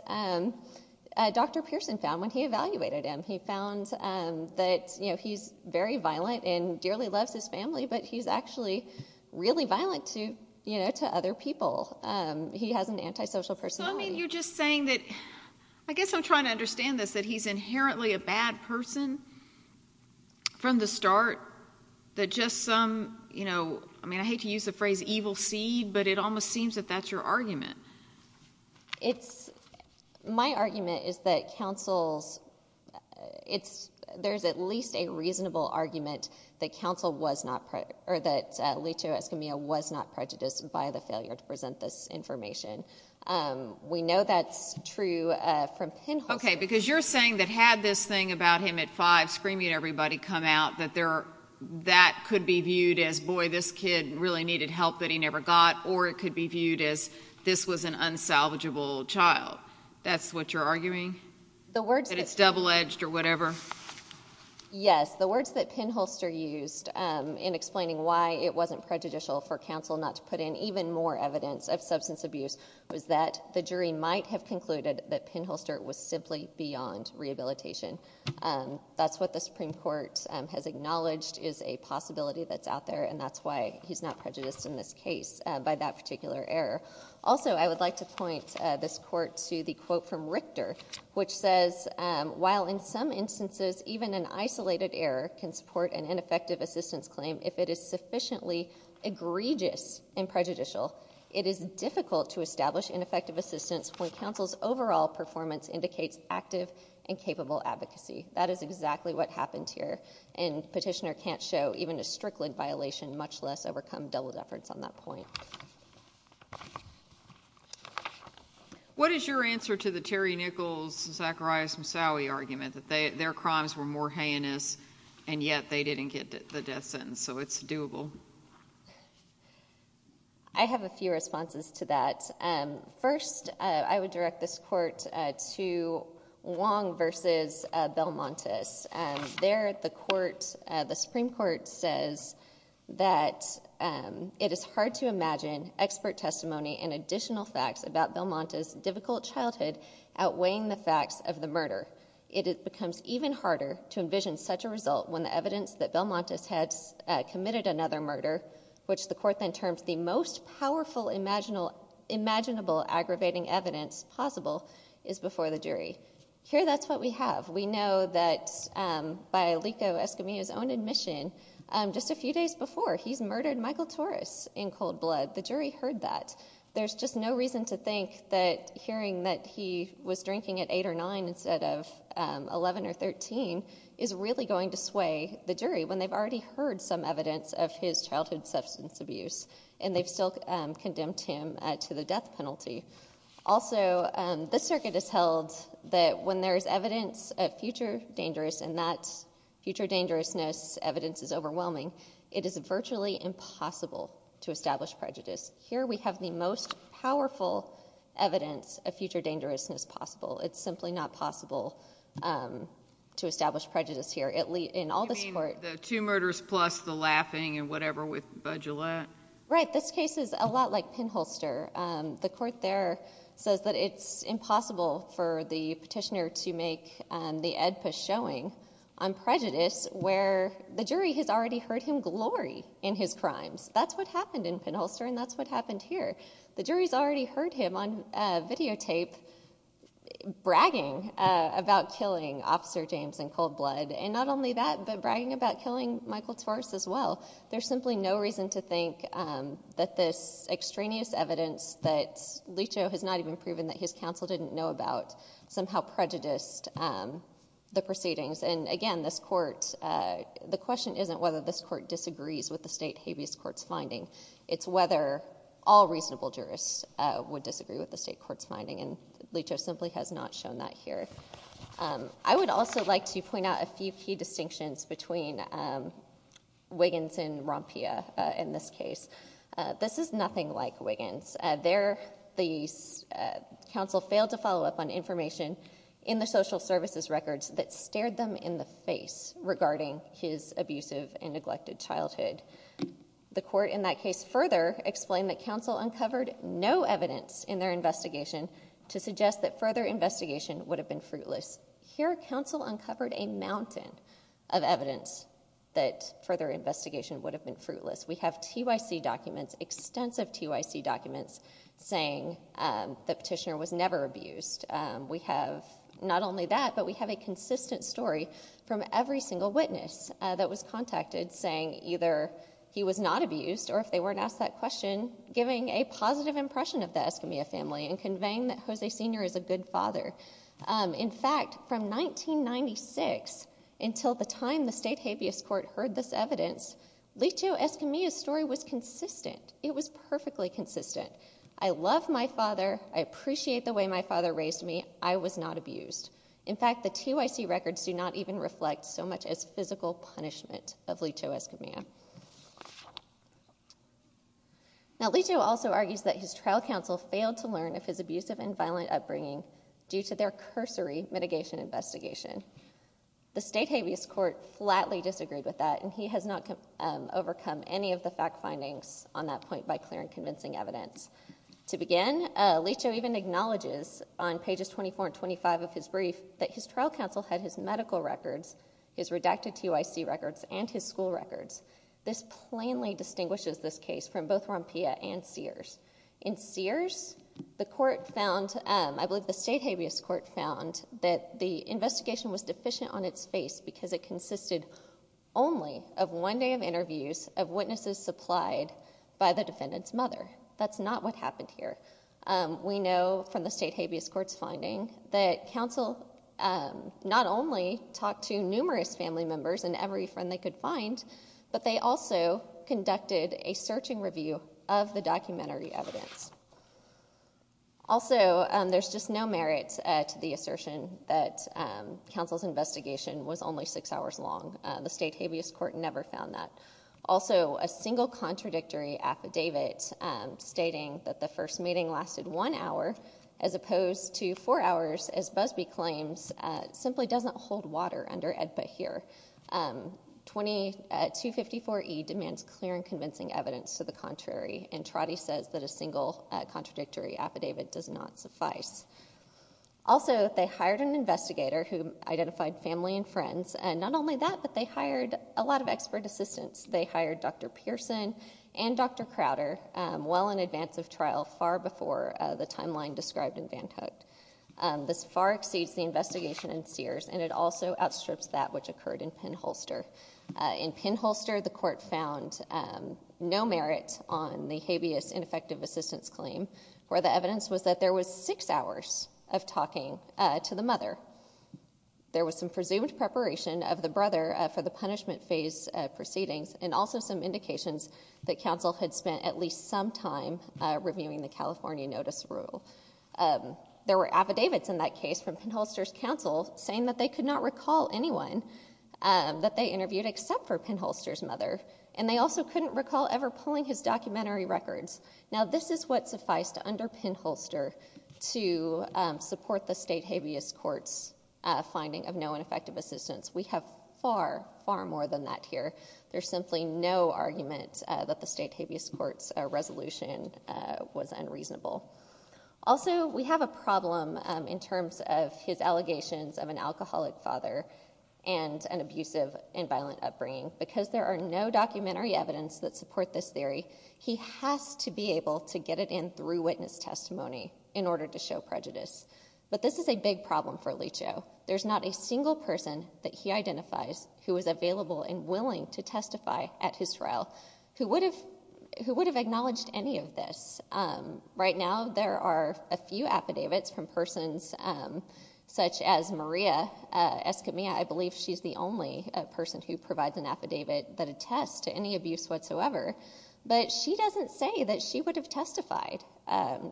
Dr. Pearson found when he evaluated him. He found that he's very violent and dearly loves his family, but he's actually really violent to other people. He has an antisocial personality. So, I mean, you're just saying that, I guess I'm trying to understand this, that he's inherently a bad person from the start, that just some, you know, I mean, I hate to use the phrase evil seed, but it almost seems that that's your argument. My argument is that counsel's, there's at least a reasonable argument that counsel was not, or that Lito Escamilla was not prejudiced by the failure to present this information. We know that's true from Penholster. Okay, because you're saying that had this thing about him at five screaming at everybody come out, that there, that could be viewed as, boy, this kid really needed help that he never got, or it could be viewed as this was an unsalvageable child. That's what you're arguing? The words- That it's double-edged or whatever? Yes, the words that Penholster used in explaining why it wasn't prejudicial for counsel not to put in even more evidence of substance abuse was that the jury might have concluded that Penholster was simply beyond rehabilitation. That's what the Supreme Court has acknowledged is a possibility that's out there, and that's why he's not prejudiced in this case by that particular error. Also, I would like to point this court to the quote from Richter, which says, while in some instances, even an isolated error can support an ineffective assistance claim if it is sufficiently egregious and prejudicial, it is difficult to establish ineffective assistance when counsel's overall performance indicates active and capable advocacy. That is exactly what happened here, and Petitioner can't show even a strickling violation, much less overcome doubled efforts on that point. What is your answer to the Terry Nichols, Zacharias Moussaoui argument that their crimes were more heinous, and yet they didn't get the death sentence, so it's doable? Thank you. I have a few responses to that. First, I would direct this court to Wong versus Belmontis. There, the Supreme Court says that it is hard to imagine expert testimony and additional facts about Belmontis' difficult childhood outweighing the facts of the murder. It becomes even harder to envision such a result when the evidence that Belmontis committed another murder, which the court then terms the most powerful imaginable aggravating evidence possible is before the jury. Here, that's what we have. We know that by Lico Escamilla's own admission, just a few days before, he's murdered Michael Torres in cold blood. The jury heard that. There's just no reason to think that hearing that he was drinking at eight or nine instead of 11 or 13 is really going to sway the jury when they've already heard some evidence of his childhood substance abuse and they've still condemned him to the death penalty. Also, this circuit has held that when there's evidence of future dangerous and that future dangerousness evidence is overwhelming, it is virtually impossible to establish prejudice. Here, we have the most powerful evidence of future dangerousness possible. It's simply not possible to establish prejudice here. In all this court- You mean the two murders plus the laughing and whatever with Budgillette? Right, this case is a lot like Penholster. The court there says that it's impossible for the petitioner to make the Oedipus showing on prejudice where the jury has already heard him glory in his crimes. That's what happened in Penholster and that's what happened here. The jury's already heard him on videotape bragging about killing Officer James in cold blood and not only that, but bragging about killing Michael Torres as well. There's simply no reason to think that this extraneous evidence that Licho has not even proven that his counsel didn't know about somehow prejudiced the proceedings. And again, this court, the question isn't whether this court disagrees with the state habeas court's finding. It's whether all reasonable jurists would disagree with the state court's finding and Licho simply has not shown that here. I would also like to point out a few key distinctions between Wiggins and Rompia in this case. This is nothing like Wiggins. There, the counsel failed to follow up on information in the social services records that stared them in the face regarding his abusive and neglected childhood. The court in that case further explained that counsel uncovered no evidence in their investigation to suggest that further investigation would have been fruitless. Here, counsel uncovered a mountain of evidence that further investigation would have been fruitless. We have TYC documents, extensive TYC documents saying the petitioner was never abused. We have not only that, but we have a consistent story from every single witness that was contacted saying either he was not abused or if they weren't asked that question, giving a positive impression of the Escamilla family and conveying that Jose Sr. is a good father. In fact, from 1996 until the time the state habeas court heard this evidence, Licho Escamilla's story was consistent. It was perfectly consistent. I love my father. I appreciate the way my father raised me. I was not abused. In fact, the TYC records do not even reflect so much as physical punishment of Licho Escamilla. Now, Licho also argues that his trial counsel failed to learn of his abusive and violent upbringing due to their cursory mitigation investigation. The state habeas court flatly disagreed with that and he has not overcome any of the fact findings on that point by clear and convincing evidence. To begin, Licho even acknowledges on pages 24 and 25 of his brief that his trial counsel had his medical records, his redacted TYC records, and his school records. This plainly distinguishes this case from both Rompilla and Sears. In Sears, the court found, I believe the state habeas court found that the investigation was deficient on its face because it consisted only of one day of interviews of witnesses supplied by the defendant's mother. That's not what happened here. We know from the state habeas court's finding that counsel not only talked to numerous family members and every friend they could find, but they also conducted a searching review of the documentary evidence. Also, there's just no merit to the assertion that counsel's investigation was only six hours long. The state habeas court never found that. Also, a single contradictory affidavit stating that the first meeting lasted one hour as opposed to four hours, as Busby claims, simply doesn't hold water under AEDPA here. 2254E demands clear and convincing evidence to the contrary, and Trotti says that a single contradictory affidavit does not suffice. Also, they hired an investigator who identified family and friends, and not only that, but they hired a lot of expert assistants. They hired Dr. Pearson and Dr. Crowder well in advance of trial, far before the timeline described in Van Cook. This far exceeds the investigation in Sears, and it also outstrips that which occurred in Penholster. In Penholster, the court found no merit on the habeas ineffective assistance claim, where the evidence was that there was six hours of talking to the mother. There was some presumed preparation of the brother for the punishment phase proceedings, and also some indications that counsel had spent at least some time reviewing the California notice rule. There were affidavits in that case from Penholster's counsel saying that they could not recall anyone that they interviewed except for Penholster's mother, and they also couldn't recall ever pulling his documentary records. Now, this is what sufficed under Penholster to support the state habeas court's finding of no ineffective assistance. We have far, far more than that here. There's simply no argument that the state habeas court's resolution was unreasonable. Also, we have a problem in terms of his allegations of an alcoholic father, and an abusive and violent upbringing. Because there are no documentary evidence that support this theory, he has to be able to get it in through witness testimony in order to show prejudice. But this is a big problem for Alicio. There's not a single person that he identifies who is available and willing to testify at his trial who would have acknowledged any of this. Right now, there are a few affidavits from persons such as Maria Escamilla. I believe she's the only person who provides an affidavit that attests to any abuse whatsoever. But she doesn't say that she would have testified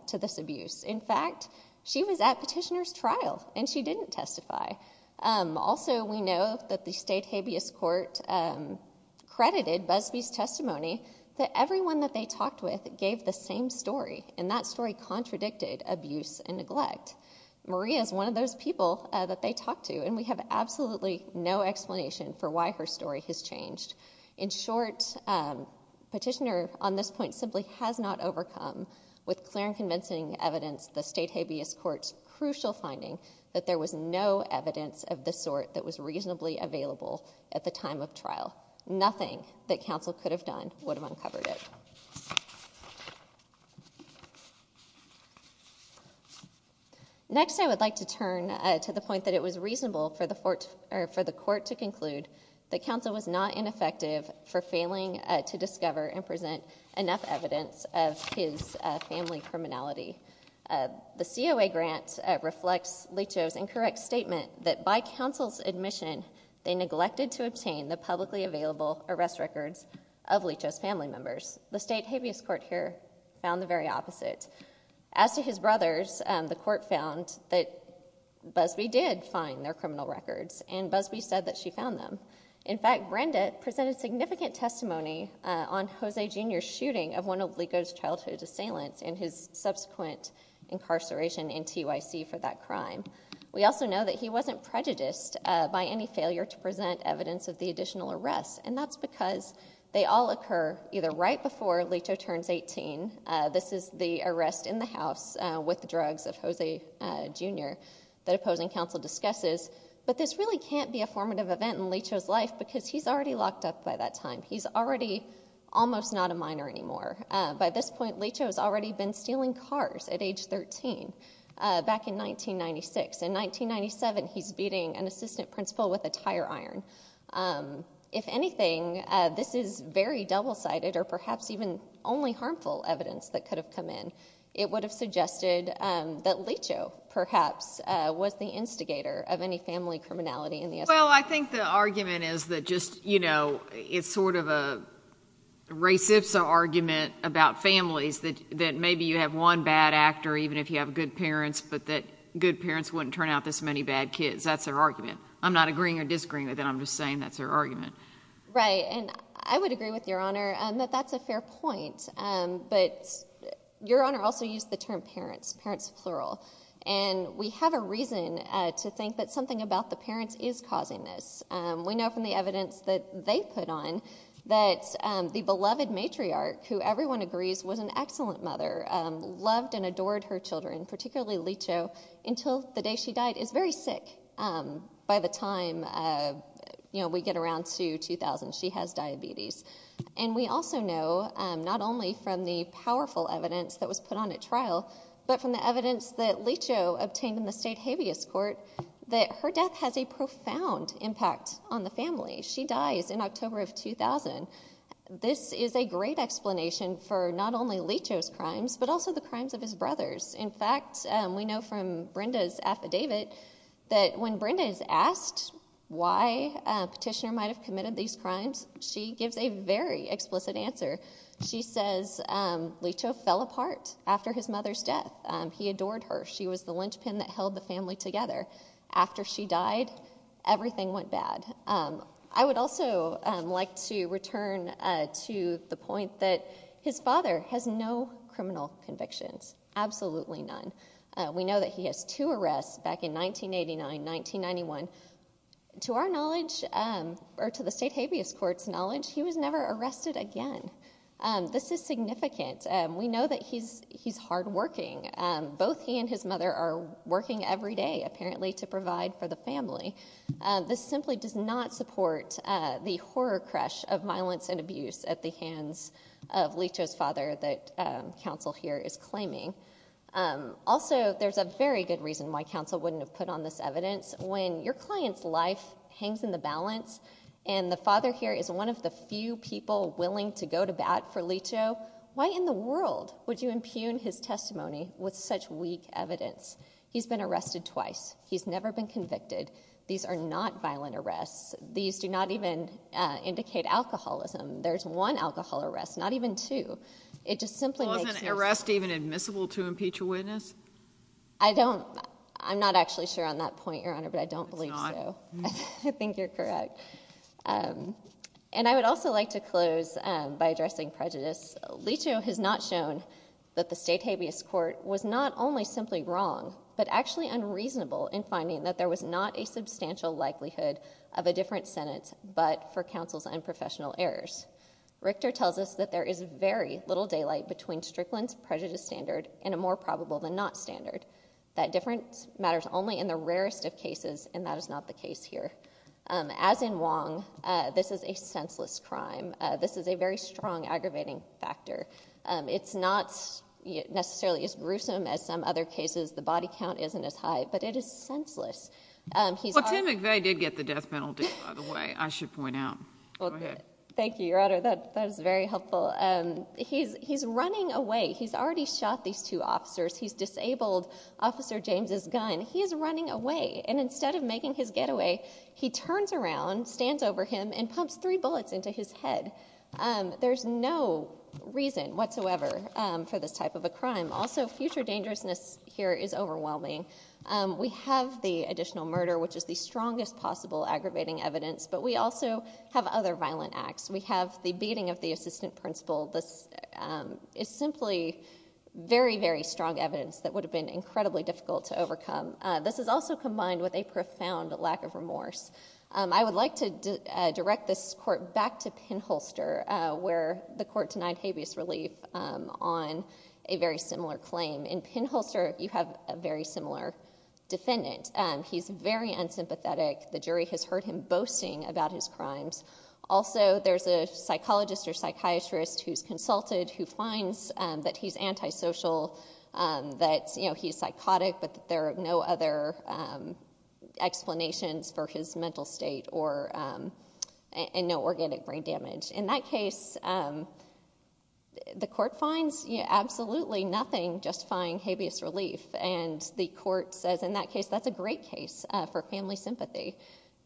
to this abuse. In fact, she was at petitioner's trial and she didn't testify. Also, we know that the state habeas court credited Busby's testimony and that story contradicted abuse and neglect. Maria is one of those people that they talk to and we have absolutely no explanation for why her story has changed. In short, petitioner on this point simply has not overcome with clear and convincing evidence the state habeas court's crucial finding that there was no evidence of the sort that was reasonably available at the time of trial. Nothing that counsel could have done would have uncovered it. Next, I would like to turn to the point that it was reasonable for the court to conclude that counsel was not ineffective for failing to discover and present enough evidence of his family criminality. The COA grant reflects Leach's incorrect statement that by counsel's admission, they neglected to obtain the publicly available arrest records of Leach's family members. The state habeas court here found the very opposite. As to his brothers, the court found that Busby did find their criminal records and Busby said that she found them. In fact, Brenda presented significant testimony on Jose Jr's shooting of one of Leach's childhood assailants and his subsequent incarceration in TYC for that crime. We also know that he wasn't prejudiced by any failure to present evidence of the additional arrests and that's because they all occur either right before Leach turns 18, this is the arrest in the house with drugs of Jose Jr that opposing counsel discusses, but this really can't be a formative event in Leach's life because he's already locked up by that time. He's already almost not a minor anymore. By this point, Leach has already been stealing cars at age 13 back in 1996. In 1997, he's beating an assistant principal with a tire iron. If anything, this is very double-sided or perhaps even only harmful evidence that could have come in. It would have suggested that Leach, perhaps, was the instigator of any family criminality in the estate. Well, I think the argument is that just, you know, it's sort of a racist argument about families that maybe you have one bad actor even if you have good parents, but that good parents wouldn't turn out this many bad kids. That's their argument. I'm not agreeing or disagreeing with that. I'm just saying that's their argument. Right, and I would agree with your honor that that's a fair point, but your honor also used the term parents, parents plural, and we have a reason to think that something about the parents is causing this. We know from the evidence that they put on that the beloved matriarch, who everyone agrees was an excellent mother, loved and adored her children, particularly Leacho, until the day she died. Is very sick by the time, you know, we get around to 2000. She has diabetes. And we also know not only from the powerful evidence that was put on at trial, but from the evidence that Leacho obtained in the state habeas court that her death has a profound impact on the family. She dies in October of 2000. This is a great explanation for not only Leacho's crimes, but also the crimes of his brothers. In fact, we know from Brenda's affidavit that when Brenda is asked why a petitioner might've committed these crimes, she gives a very explicit answer. She says, Leacho fell apart after his mother's death. He adored her. She was the linchpin that held the family together. After she died, everything went bad. I would also like to return to the point that his father has no criminal convictions, absolutely none. We know that he has two arrests back in 1989, 1991. To our knowledge, or to the state habeas court's knowledge, he was never arrested again. This is significant. We know that he's hardworking. Both he and his mother are working every day, apparently, to provide for the family. This simply does not support the horror crush of violence and abuse at the hands of Leacho's father that counsel here is claiming. Also, there's a very good reason why counsel wouldn't have put on this evidence. When your client's life hangs in the balance and the father here is one of the few people willing to go to bat for Leacho, why in the world would you impugn his testimony with such weak evidence? He's been arrested twice. He's never been convicted. These are not violent arrests. These do not even indicate alcoholism. There's one alcohol arrest, not even two. It just simply makes- Wasn't an arrest even admissible to impeach a witness? I don't, I'm not actually sure on that point, Your Honor, but I don't believe so. It's not? I think you're correct. And I would also like to close by addressing prejudice. Leacho has not shown that the state habeas court was not only simply wrong, but actually unreasonable in finding that there was not a substantial likelihood of a different sentence, but for counsel's unprofessional errors. Richter tells us that there is very little daylight between Strickland's prejudice standard and a more probable than not standard. That difference matters only in the rarest of cases, and that is not the case here. As in Wong, this is a senseless crime. This is a very strong aggravating factor. It's not necessarily as gruesome as some other cases. The body count isn't as high, but it is senseless. He's already- Well, Tim McVeigh did get the death penalty, by the way, I should point out. Go ahead. Thank you, Your Honor, that is very helpful. He's running away. He's already shot these two officers. He's disabled Officer James's gun. He is running away, and instead of making his getaway, he turns around, stands over him, and pumps three bullets into his head. There's no reason whatsoever for this type of a crime. Also, future dangerousness here is overwhelming. We have the additional murder, which is the strongest possible aggravating evidence, but we also have other violent acts. We have the beating of the assistant principal. This is simply very, very strong evidence that would have been incredibly difficult to overcome. This is also combined with a profound lack of remorse. I would like to direct this court back to Pinholster, where the court denied habeas relief on a very similar claim. In Pinholster, you have a very similar defendant. He's very unsympathetic. The jury has heard him boasting about his crimes. Also, there's a psychologist or psychiatrist who's consulted, who finds that he's antisocial, that he's psychotic, but there are no other explanations for his mental state, and no organic brain damage. In that case, the court finds absolutely nothing justifying habeas relief, and the court says, in that case, that's a great case for family sympathy.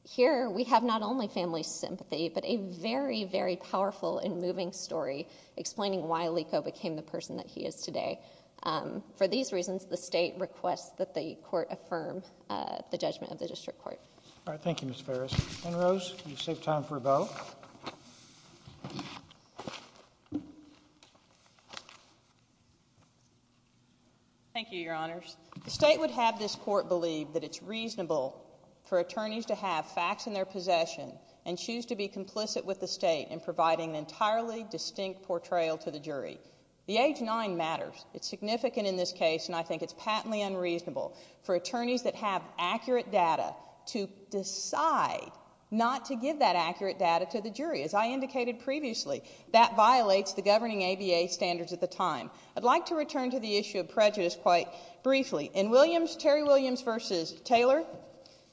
Here, we have not only family sympathy, but a very, very powerful and moving story explaining why Lico became the person that he is today. For these reasons, the state requests that the court affirm the judgment of the district court. All right, thank you, Ms. Ferris. And Rose, you saved time for a vote. Thank you, your honors. The state would have this court believe that it's reasonable for attorneys to have facts in their possession and choose to be complicit with the state in providing an entirely distinct portrayal to the jury. The age nine matters. It's significant in this case, and I think it's patently unreasonable for attorneys that have accurate data to decide not to give that accurate data to the jury. As I indicated previously, that violates the governing ABA standards at the time. I'd like to return to the issue of prejudice quite briefly. In Williams, Terry Williams versus Taylor,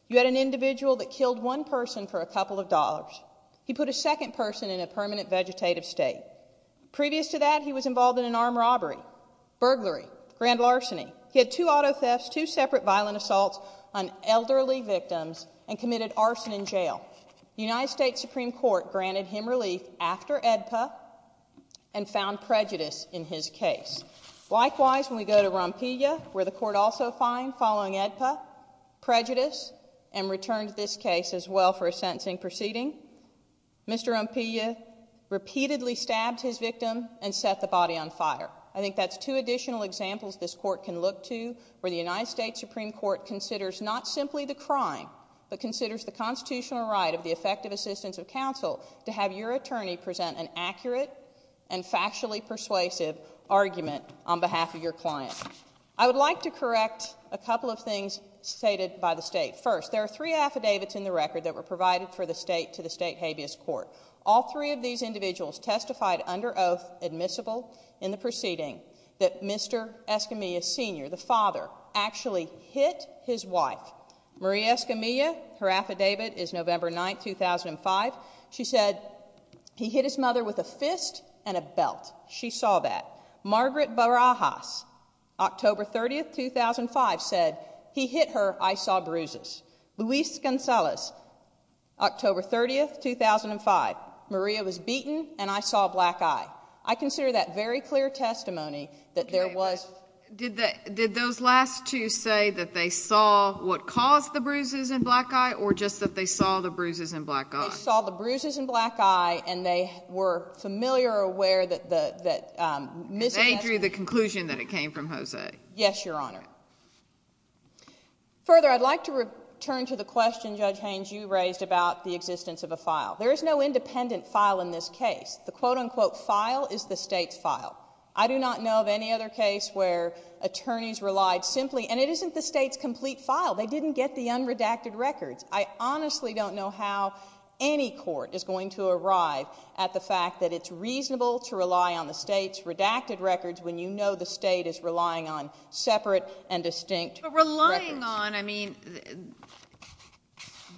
you had an individual that killed one person for a couple of dollars. He put a second person in a permanent vegetative state. Previous to that, he was involved in an armed robbery, burglary, grand larceny. He had two auto thefts, two separate violent assaults on elderly victims, and committed arson in jail. United States Supreme Court granted him relief after AEDPA and found prejudice in his case. Likewise, when we go to Rompilla, where the court also fined following AEDPA, prejudice, and returned this case as well for a sentencing proceeding, Mr. Rompilla repeatedly stabbed his victim and set the body on fire. I think that's two additional examples this court can look to, where the United States Supreme Court considers not simply the crime, but considers the constitutional right of the effective assistance of counsel to have your attorney present an accurate I would like to correct a couple of things stated by the state. First, there are three affidavits in the record that were provided for the state to the state habeas court. All three of these individuals testified under oath, admissible in the proceeding, that Mr. Escamilla, Sr., the father, actually hit his wife, Marie Escamilla. Her affidavit is November 9th, 2005. She said he hit his mother with a fist and a belt. She saw that. Margaret Barajas, October 30th, 2005, said, he hit her, I saw bruises. Luis Gonzalez, October 30th, 2005, Maria was beaten and I saw a black eye. I consider that very clear testimony that there was. Did those last two say that they saw what caused the bruises and black eye, or just that they saw the bruises and black eye? They saw the bruises and black eye and they were familiar or aware that Ms. Escamilla. They drew the conclusion that it came from Jose. Yes, Your Honor. Further, I'd like to return to the question, Judge Haynes, you raised about the existence of a file. There is no independent file in this case. The quote unquote file is the state's file. I do not know of any other case where attorneys relied simply, and it isn't the state's complete file. They didn't get the unredacted records. I honestly don't know how any court is going to arrive at the fact that it's reasonable to rely on the state's redacted records when you know the state is relying on separate and distinct records. But relying on, I mean,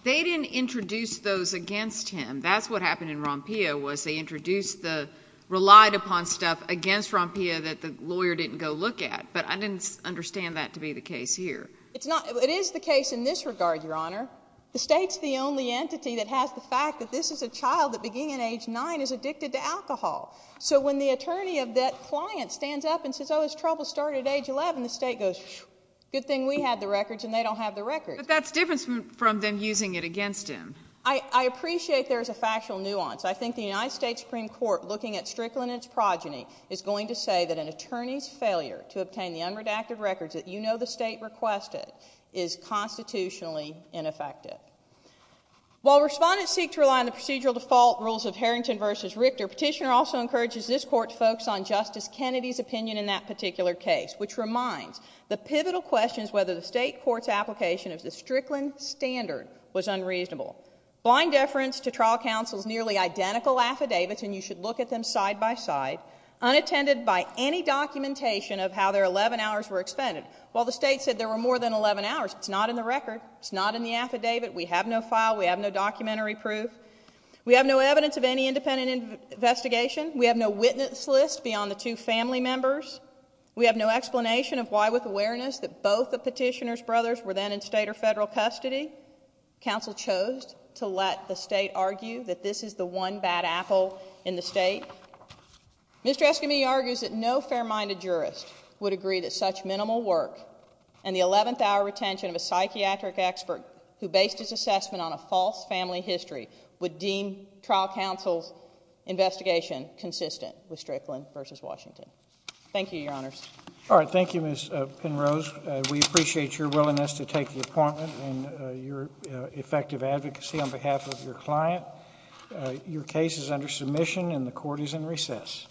they didn't introduce those against him. That's what happened in Rompia, was they introduced the relied upon stuff against Rompia that the lawyer didn't go look at. But I didn't understand that to be the case here. It's not, it is the case in this regard, Your Honor. The state's the only entity that has the fact that this is a child that beginning at age nine is addicted to alcohol. So when the attorney of that client stands up and says, oh, his trouble started at age 11, the state goes, good thing we had the records and they don't have the records. But that's different from them using it against him. I appreciate there's a factual nuance. I think the United States Supreme Court looking at Strickland and its progeny is going to say that an attorney's failure to obtain the unredacted records that you know the state requested is constitutionally ineffective. While respondents seek to rely on the procedural default rules of Harrington versus Richter, your petitioner also encourages this court to focus on Justice Kennedy's opinion in that particular case, which reminds the pivotal questions whether the state court's application of the Strickland standard was unreasonable. Blind deference to trial counsel's nearly identical affidavits, and you should look at them side by side, unattended by any documentation of how their 11 hours were expended. While the state said there were more than 11 hours, it's not in the record, it's not in the affidavit, we have no file, we have no documentary proof. We have no evidence of any independent investigation. We have no witness list beyond the two family members. We have no explanation of why with awareness that both the petitioner's brothers were then in state or federal custody, counsel chose to let the state argue that this is the one bad apple in the state. Mr. Eskami argues that no fair-minded jurist would agree that such minimal work and the 11th hour retention of a psychiatric expert who based his assessment on a false family history would deem trial counsel's investigation consistent with Strickland versus Washington. Thank you, your honors. All right, thank you, Ms. Penrose. We appreciate your willingness to take the appointment and your effective advocacy on behalf of your client. Your case is under submission and the court is in recess.